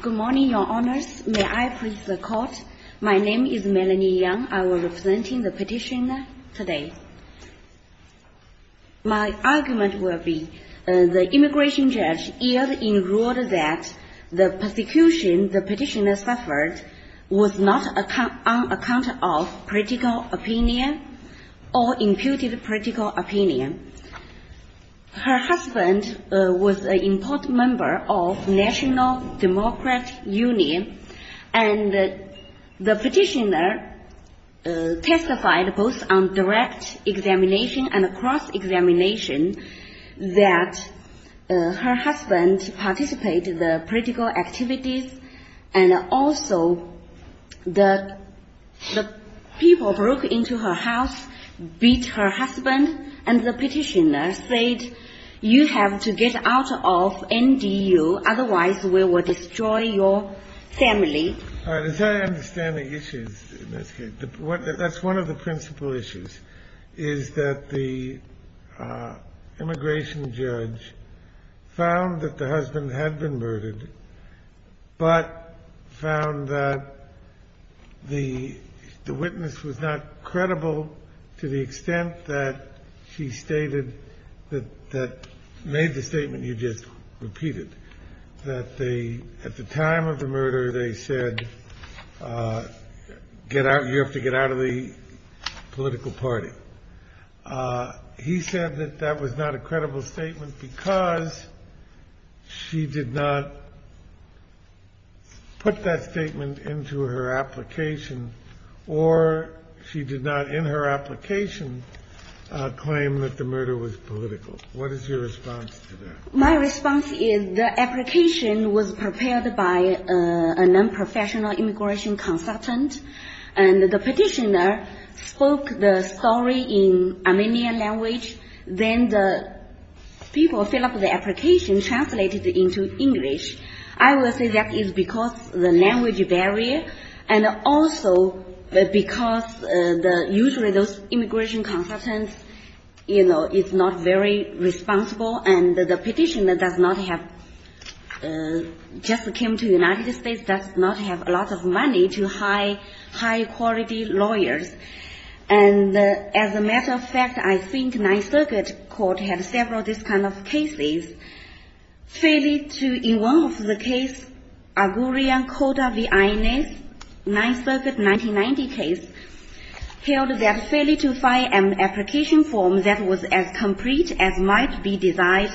Good morning, Your Honours. May I please the Court? My name is Melanie Yang. I will be representing the petitioner today. My argument will be the immigration judge yield in rule that the persecution the petitioner suffered was not on account of political opinion or imputed political opinion. Her husband was an important member of the National Democratic Union and the petitioner testified both on direct examination and cross-examination that her husband participated in the political activities and also the people broke into her house, beat her husband and the petitioner said you have to get out of NDU otherwise we will destroy your family. As I understand the issues, that's one of the principal issues, is that the immigration judge found that the husband had been murdered but found that the statement was not credible to the extent that she stated, that made the statement you just repeated, that at the time of the murder they said you have to get out of the political party. He said that that was not a credible statement because she did not put that statement into her application or she did not in her application claim that the murder was political. What is your response to that? My response is the application was prepared by a non-professional immigration consultant and the petitioner spoke the story in Armenian language then the people fill up the application and also because usually those immigration consultants, you know, is not very responsible and the petitioner does not have, just came to the United States, does not have a lot of money to hire high quality lawyers and as a matter of fact I think Ninth Circuit Court had several of these kind of cases. In one of the cases, Agourian Coda v. Inez, Ninth Circuit 1990 case, held that failing to find an application form that was as complete as might be desired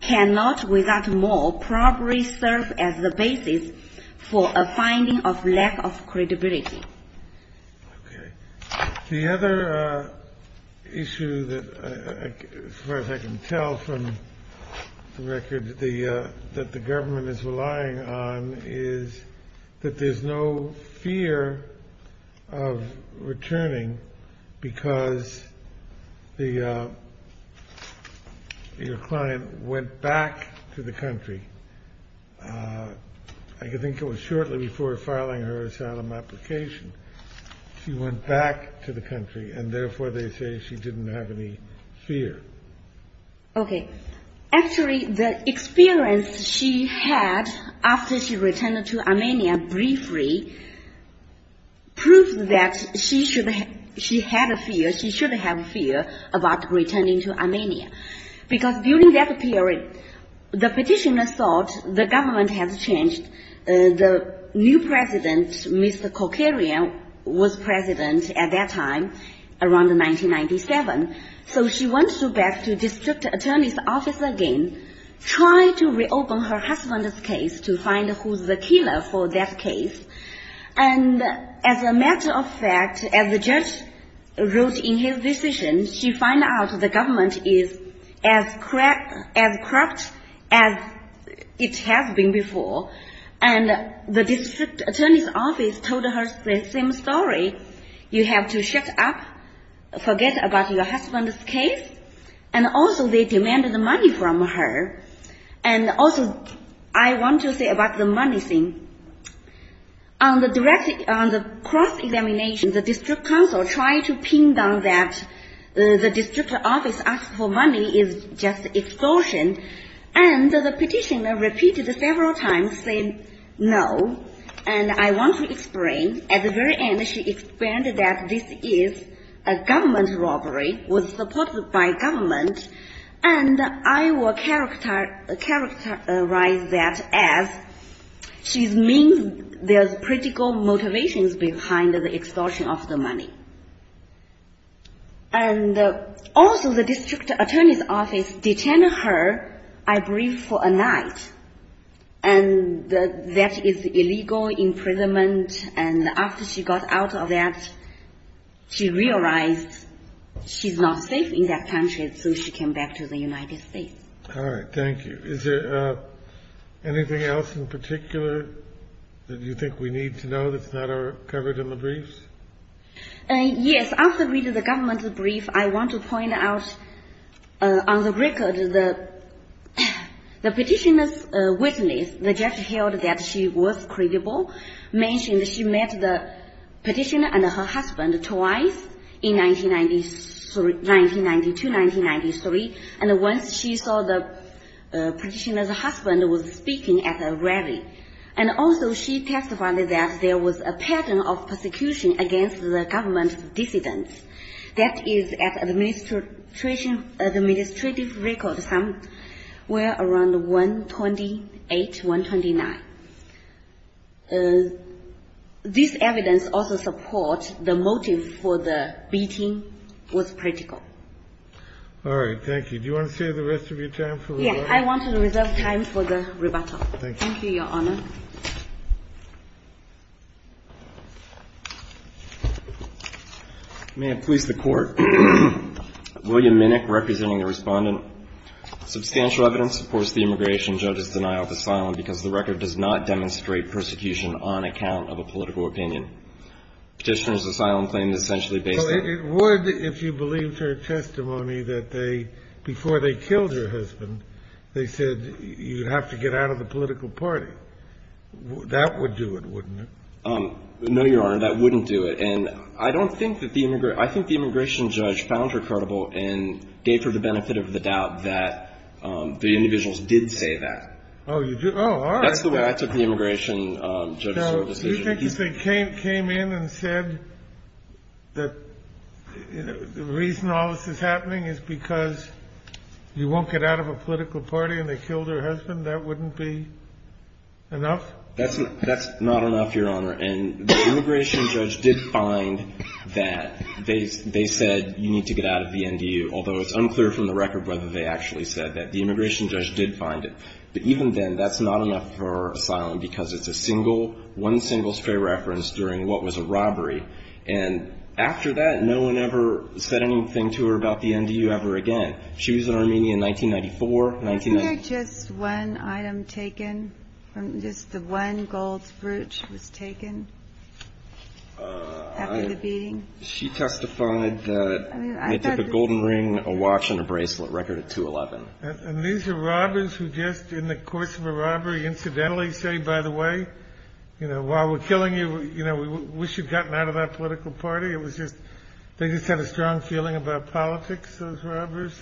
cannot without more probably serve as the basis for a finding of lack of credibility. The other issue that as far as I can tell from the record that the government is relying on is that there is no fear of returning because your client went back to the country. I think it was shortly before filing her asylum application she went back to the country and therefore they say she didn't have any fear. Okay. Actually the experience she had after she returned to Armenia briefly proved that she had a fear, she should have fear about returning to Armenia because during that period the petitioner thought the government has changed. The new president, Mr. Kokaryan, was president at that time around 1997. So she went back to district attorney's office again, tried to reopen her husband's case to find who's the killer for that case. And as a matter of fact, as the judge wrote in his decision, she found out the government is as corrupt as it has been before. And the district attorney's office told her the same story. You have to shut up, forget about your husband's case. And also they demanded the money from her. And also I want to say about the money thing. On the cross-examination, the district counsel tried to pin down that the district office asked for money is just extortion. And the petitioner repeated several times saying no, and I want to explain. At the very end she explained that this is a government robbery, was supported by government. And I will characterize that as she means there's political motivations behind the extortion of the money. And also the district attorney's office detained her, I believe, for a night. And that is illegal imprisonment, and after she got out of that, she realized she's not safe in that country, so she came back to the United States. All right, thank you. Is there anything else in particular that you think we need to know that's not covered in the briefs? Yes. After reading the government's brief, I want to point out on the record the petitioner's witness, the judge held that she was credible, mentioned she met the petitioner and her husband twice in 1992-1993, and once she saw the petitioner's husband was speaking at a rally. And also she testified that there was a pattern of persecution against the government dissidents. That is at administrative record somewhere around 128, 129. This evidence also supports the motive for the beating was critical. All right, thank you. Do you want to save the rest of your time for rebuttal? Yes, I want to reserve time for the rebuttal. Thank you. Thank you, Your Honor. May it please the Court. William Minnick, representing the respondent. Substantial evidence supports the immigration judge's denial of asylum because the record does not demonstrate persecution on account of a political opinion. Petitioner's asylum claim is essentially based on- Well, it would if you believed her testimony that before they killed her husband, they said you have to get out of the political party. That would do it, wouldn't it? No, Your Honor. That wouldn't do it. And I don't think that the immigr- I think the immigration judge found her credible and gave her the benefit of the doubt that the individuals did say that. Oh, you did? Oh, all right. That's the way I took the immigration judge's decision. Do you think if they came in and said that the reason all this is happening is because you won't get out of a political party and they killed her husband, that wouldn't be enough? That's not enough, Your Honor. And the immigration judge did find that. They said you need to get out of the NDU, although it's unclear from the record whether they actually said that. The immigration judge did find it. But even then, that's not enough for asylum because it's a single, one single stray reference during what was a robbery. And after that, no one ever said anything to her about the NDU ever again. She was in Armenia in 1994. Wasn't there just one item taken, just the one gold brooch was taken after the beating? She testified that it took a golden ring, a watch, and a bracelet, record at 2-11. And these are robbers who just, in the course of a robbery, incidentally say, by the way, you know, while we're killing you, you know, we wish you'd gotten out of that political party. It was just they just had a strong feeling about politics, those robbers.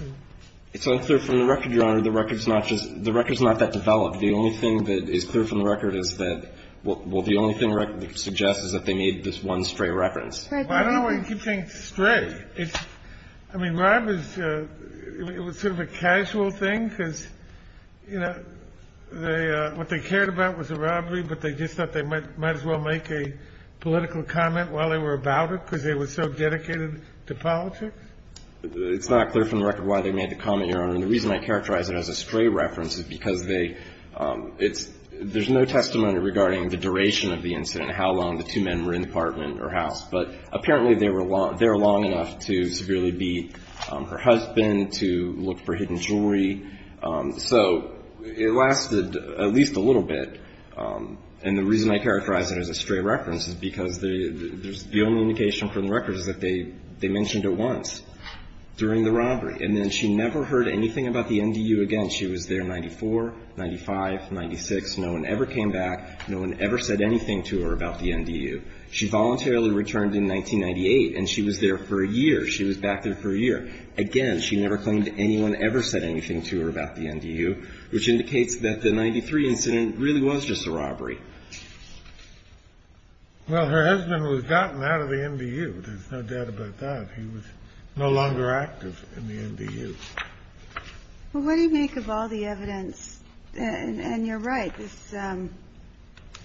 It's unclear from the record, Your Honor. The record's not just the record's not that developed. The only thing that is clear from the record is that, well, the only thing the record suggests is that they made this one stray reference. I don't know why you keep saying stray. I mean, robbers, it was sort of a casual thing because, you know, what they cared about was a robbery, but they just thought they might as well make a political comment while they were about it because they were so dedicated to politics. It's not clear from the record why they made the comment, Your Honor. And the reason I characterize it as a stray reference is because they, it's, there's no testimony regarding the duration of the incident, how long the two men were in the apartment or house. But apparently they were, they were long enough to severely beat her husband, to look for hidden jewelry. So it lasted at least a little bit. And the reason I characterize it as a stray reference is because the, the only indication from the record is that they, they mentioned it once during the robbery. And then she never heard anything about the NDU again. She was there in 94, 95, 96. No one ever came back. No one ever said anything to her about the NDU. She voluntarily returned in 1998 and she was there for a year. She was back there for a year. Again, she never claimed anyone ever said anything to her about the NDU, which indicates that the 93 incident really was just a robbery. Well, her husband was gotten out of the NDU. There's no doubt about that. He was no longer active in the NDU. Well, what do you make of all the evidence? And you're right.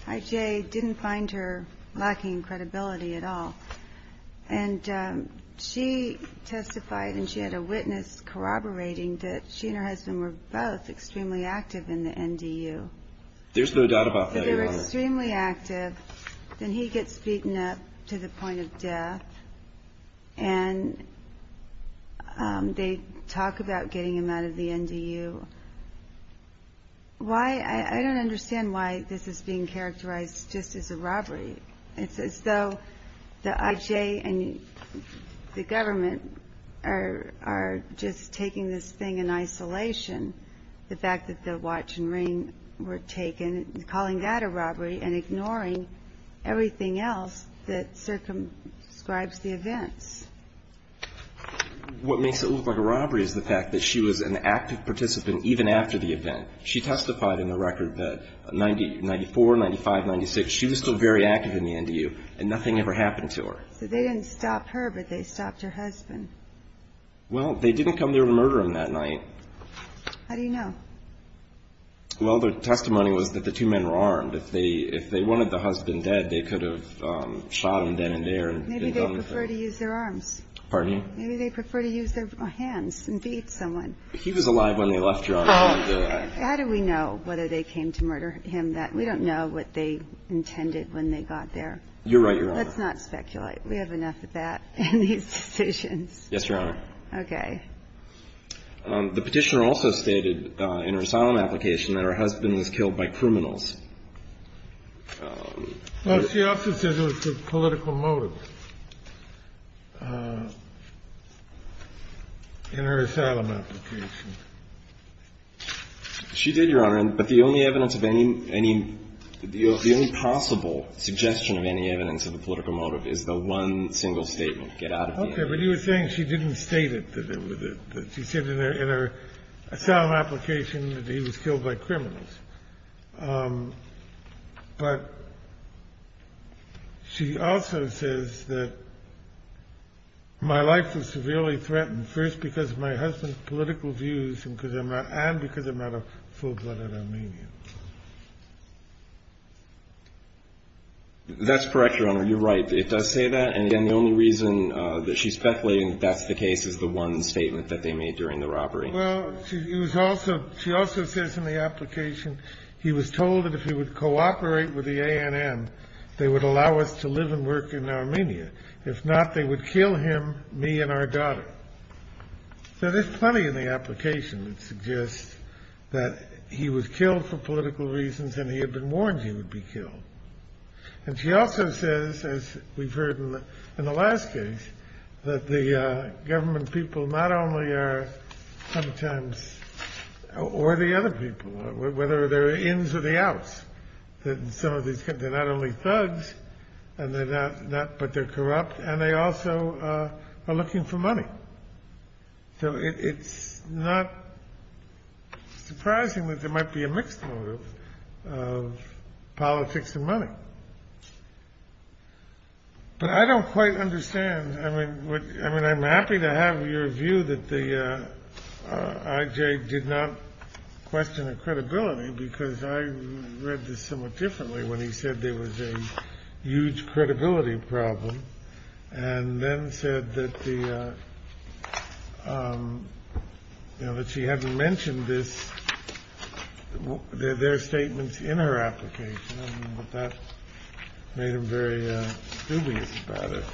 IJ didn't find her lacking credibility at all. And she testified and she had a witness corroborating that she and her husband were both extremely active in the NDU. There's no doubt about that. They were extremely active. Then he gets beaten up to the point of death. And they talk about getting him out of the NDU. I don't understand why this is being characterized just as a robbery. It's as though the IJ and the government are just taking this thing in isolation, the fact that the watch and ring were taken, and calling that a robbery and ignoring everything else that circumscribes the events. What makes it look like a robbery is the fact that she was an active participant even after the event. She testified in the record that 94, 95, 96, she was still very active in the NDU, and nothing ever happened to her. So they didn't stop her, but they stopped her husband. Well, they didn't come there to murder him that night. How do you know? Well, the testimony was that the two men were armed. If they wanted the husband dead, they could have shot him then and there. Maybe they prefer to use their arms. Pardon me? Maybe they prefer to use their hands and beat someone. He was alive when they left, Your Honor. How do we know whether they came to murder him? We don't know what they intended when they got there. You're right, Your Honor. Let's not speculate. We have enough of that in these decisions. Yes, Your Honor. Okay. The Petitioner also stated in her asylum application that her husband was killed by criminals. Well, she also said it was for political motives in her asylum application. She did, Your Honor. But the only evidence of any – the only possible suggestion of any evidence of a political motive is the one single statement, get out of the NDU. Okay. But you were saying she didn't state it, that she said in her asylum application that he was killed by criminals. But she also says that my life was severely threatened first because of my husband's political views and because I'm not a full-blooded Armenian. That's correct, Your Honor. You're right. It does say that. And, again, the only reason that she's speculating that that's the case is the one statement that they made during the robbery. Well, she also says in the application he was told that if he would cooperate with the ANN, they would allow us to live and work in Armenia. If not, they would kill him, me, and our daughter. So there's plenty in the application that suggests that he was killed for political reasons and he had been warned he would be killed. And she also says, as we've heard in the last case, that the government people not only are sometimes, or the other people, whether they're ins or the outs, that in some of these cases they're not only thugs, but they're corrupt, so it's not surprising that there might be a mixed motive of politics and money. But I don't quite understand. I mean, I'm happy to have your view that the IJ did not question her credibility because I read this somewhat differently when he said there was a huge credibility problem and then said that the, you know, that she hadn't mentioned this, their statements in her application, but that made him very dubious about it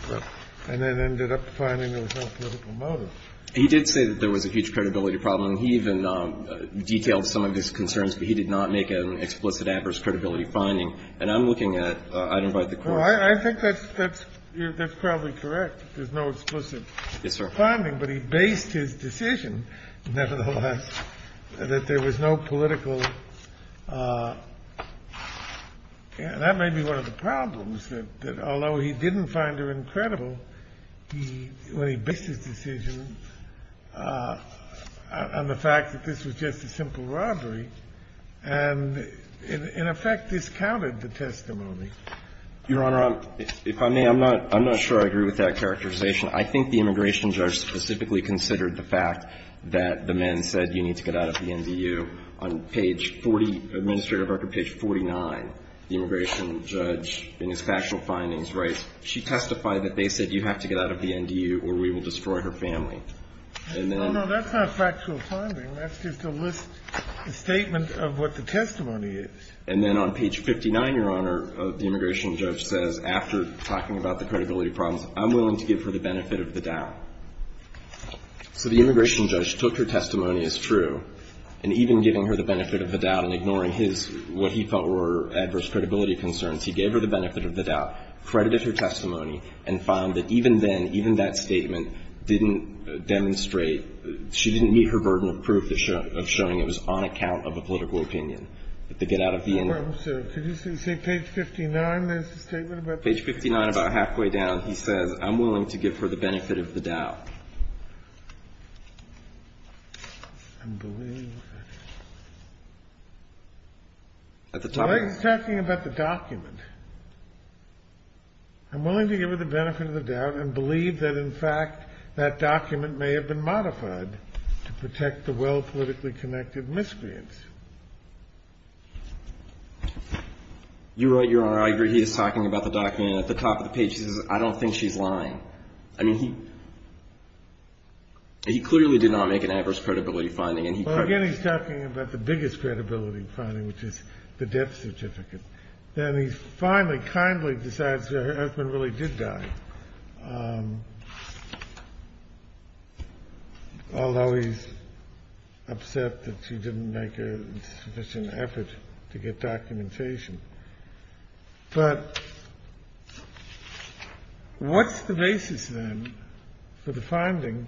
and then ended up finding there was no political motive. He did say that there was a huge credibility problem. He even detailed some of his concerns, but he did not make an explicit adverse credibility finding. And I'm looking at item 5, the court. I think that's probably correct. There's no explicit finding, but he based his decision, nevertheless, that there was no political. And that may be one of the problems, that although he didn't find her incredible, he, when he based his decision on the fact that this was just a simple robbery and, in effect, discounted the testimony. Your Honor, if I may, I'm not sure I agree with that characterization. I think the immigration judge specifically considered the fact that the men said you need to get out of the NDU on page 40, administrative record page 49. The immigration judge, in his factual findings, writes, she testified that they said you have to get out of the NDU or we will destroy her family. And then the immigration judge says, no, no, that's not factual finding. That's just a list, a statement of what the testimony is. And then on page 59, Your Honor, the immigration judge says, after talking about the credibility problems, I'm willing to give her the benefit of the doubt. So the immigration judge took her testimony as true, and even giving her the benefit of the doubt and ignoring his, what he felt were adverse credibility concerns, he gave her the benefit of the doubt, credited her testimony and found that even then, even that statement didn't demonstrate, she didn't meet her burden of proof of showing it was on account of a political opinion, that they get out of the NDU. Can you say page 59, there's a statement about this case? Page 59, about halfway down, he says, I'm willing to give her the benefit of the doubt. I'm willing to give her the benefit of the doubt. And believe that, in fact, that document may have been modified to protect the well-politically connected miscreants. You're right, Your Honor, I agree. He is talking about the document at the top of the page. He says, I don't think she's lying. I mean, he clearly did not make an adverse credibility finding. Well, again, he's talking about the biggest credibility finding, which is the death certificate. Then he finally kindly decides that her husband really did die, although he's upset that she didn't make a sufficient effort to get documentation. But what's the basis, then, for the finding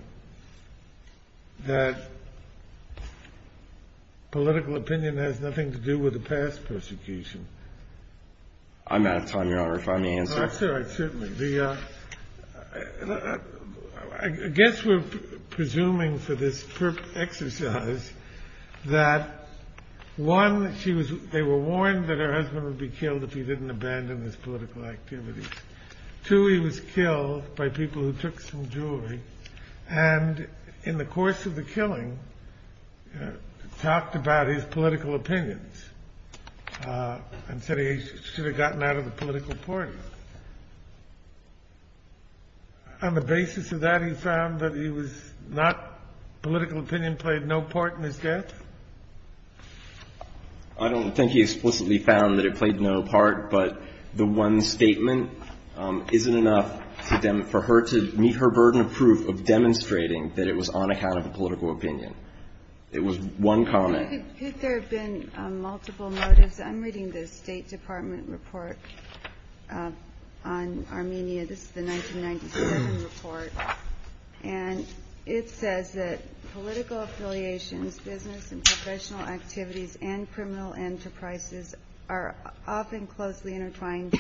that political opinion has nothing to do with past persecution? I'm out of time, Your Honor, if I may answer. Certainly. I guess we're presuming for this exercise that, one, they were warned that her husband would be killed if he didn't abandon his political activities. And in the course of the killing, talked about his political opinions and said he should have gotten out of the political party. On the basis of that, he found that he was not political opinion played no part in his death? I don't think he explicitly found that it played no part, but the one statement isn't enough for her to meet her burden of proof of demonstrating that it was on account of a political opinion. It was one comment. Could there have been multiple motives? I'm reading the State Department report on Armenia. This is the 1997 report. And it says that political affiliations, business and professional activities, and criminal enterprises are often closely intertwined.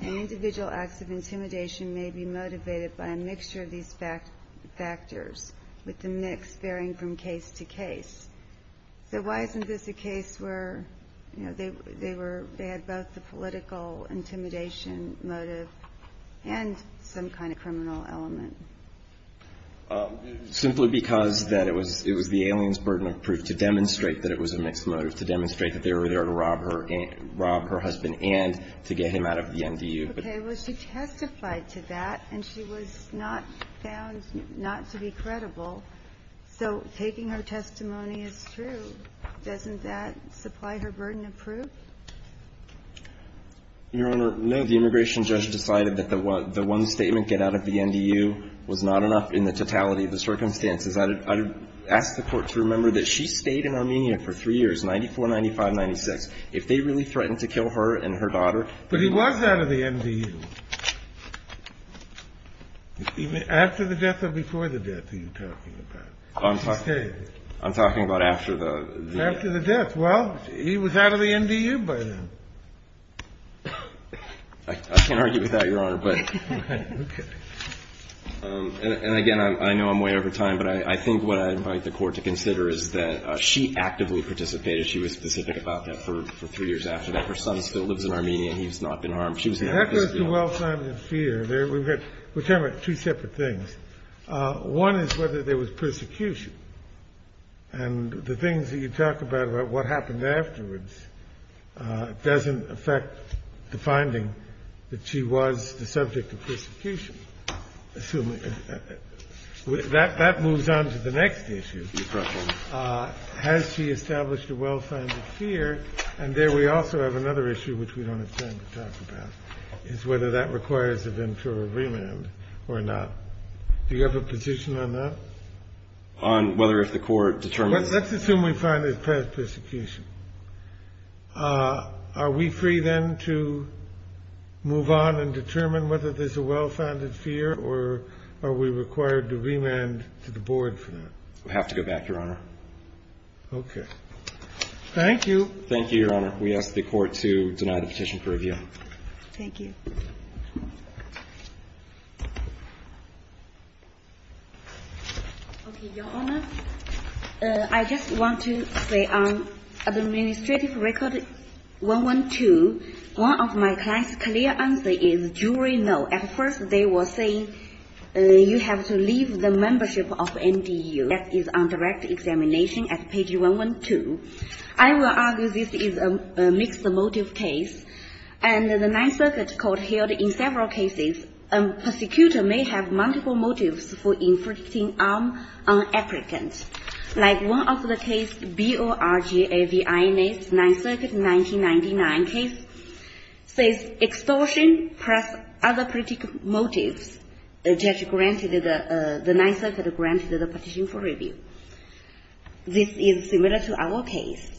And individual acts of intimidation may be motivated by a mixture of these factors, with the mix varying from case to case. So why isn't this a case where, you know, they had both the political intimidation motive and some kind of criminal element? Simply because that it was the alien's burden of proof to demonstrate that it was a mixed motive, to demonstrate that they were there to rob her husband and to get him out of the NDU. Okay. Well, she testified to that, and she was not found not to be credible. So taking her testimony as true, doesn't that supply her burden of proof? Your Honor, no. The immigration judge decided that the one statement, get out of the NDU, was not enough in the totality of the circumstances. I would ask the Court to remember that she stayed in Armenia for three years, 94, 95, 96. If they really threatened to kill her and her daughter. But he was out of the NDU. After the death or before the death are you talking about? I'm talking about after the death. After the death. Well, he was out of the NDU by then. I can't argue with that, Your Honor. Okay. And, again, I know I'm way over time, but I think what I invite the Court to consider is that she actively participated. She was specific about that for three years after that. Her son still lives in Armenia. He's not been harmed. She was there. That goes to well-timed and fear. We're talking about two separate things. One is whether there was persecution. And the things that you talk about about what happened afterwards doesn't affect the finding that she was the subject of persecution. That moves on to the next issue. Has she established a well-timed fear? And there we also have another issue, which we don't have time to talk about, is whether that requires a ventura remand or not. Do you have a position on that? On whether if the Court determines? Let's assume we find there's past persecution. Are we free then to move on and determine whether there's a well-founded fear or are we required to remand to the Board for that? We'll have to go back, Your Honor. Okay. Thank you. Thank you, Your Honor. We ask the Court to deny the petition for review. Thank you. Okay. Your Honor, I just want to say on Administrative Record 112, one of my client's clear answer is jury no. At first they were saying you have to leave the membership of MDU. That is on direct examination at page 112. I will argue this is a mixed motive case. And the Ninth Circuit Court held in several cases a persecutor may have multiple motives for inflicting harm on applicants. Like one of the cases, BORG-AVI, Ninth Circuit 1999 case, says extortion plus other political motives, the judge granted the Ninth Circuit granted the petition for review. This is similar to our case.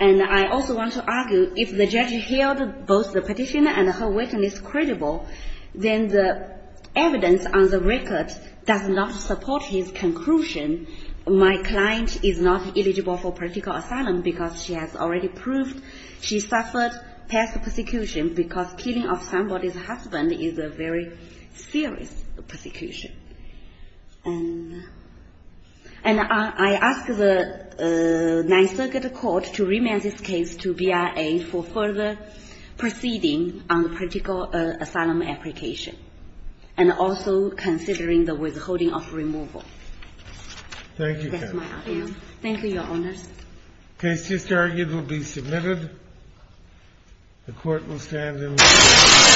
And I also want to argue if the judge held both the petitioner and her witness credible, then the evidence on the record does not support his conclusion. My client is not eligible for political asylum because she has already proved she suffered past persecution because killing of somebody's husband is a very serious persecution. And I ask the Ninth Circuit Court to remand this case to BIA for further proceeding on the political asylum application and also considering the withholding of removal. Thank you. That's my argument. Thank you, Your Honors. The case just argued will be submitted. The Court will stand in order.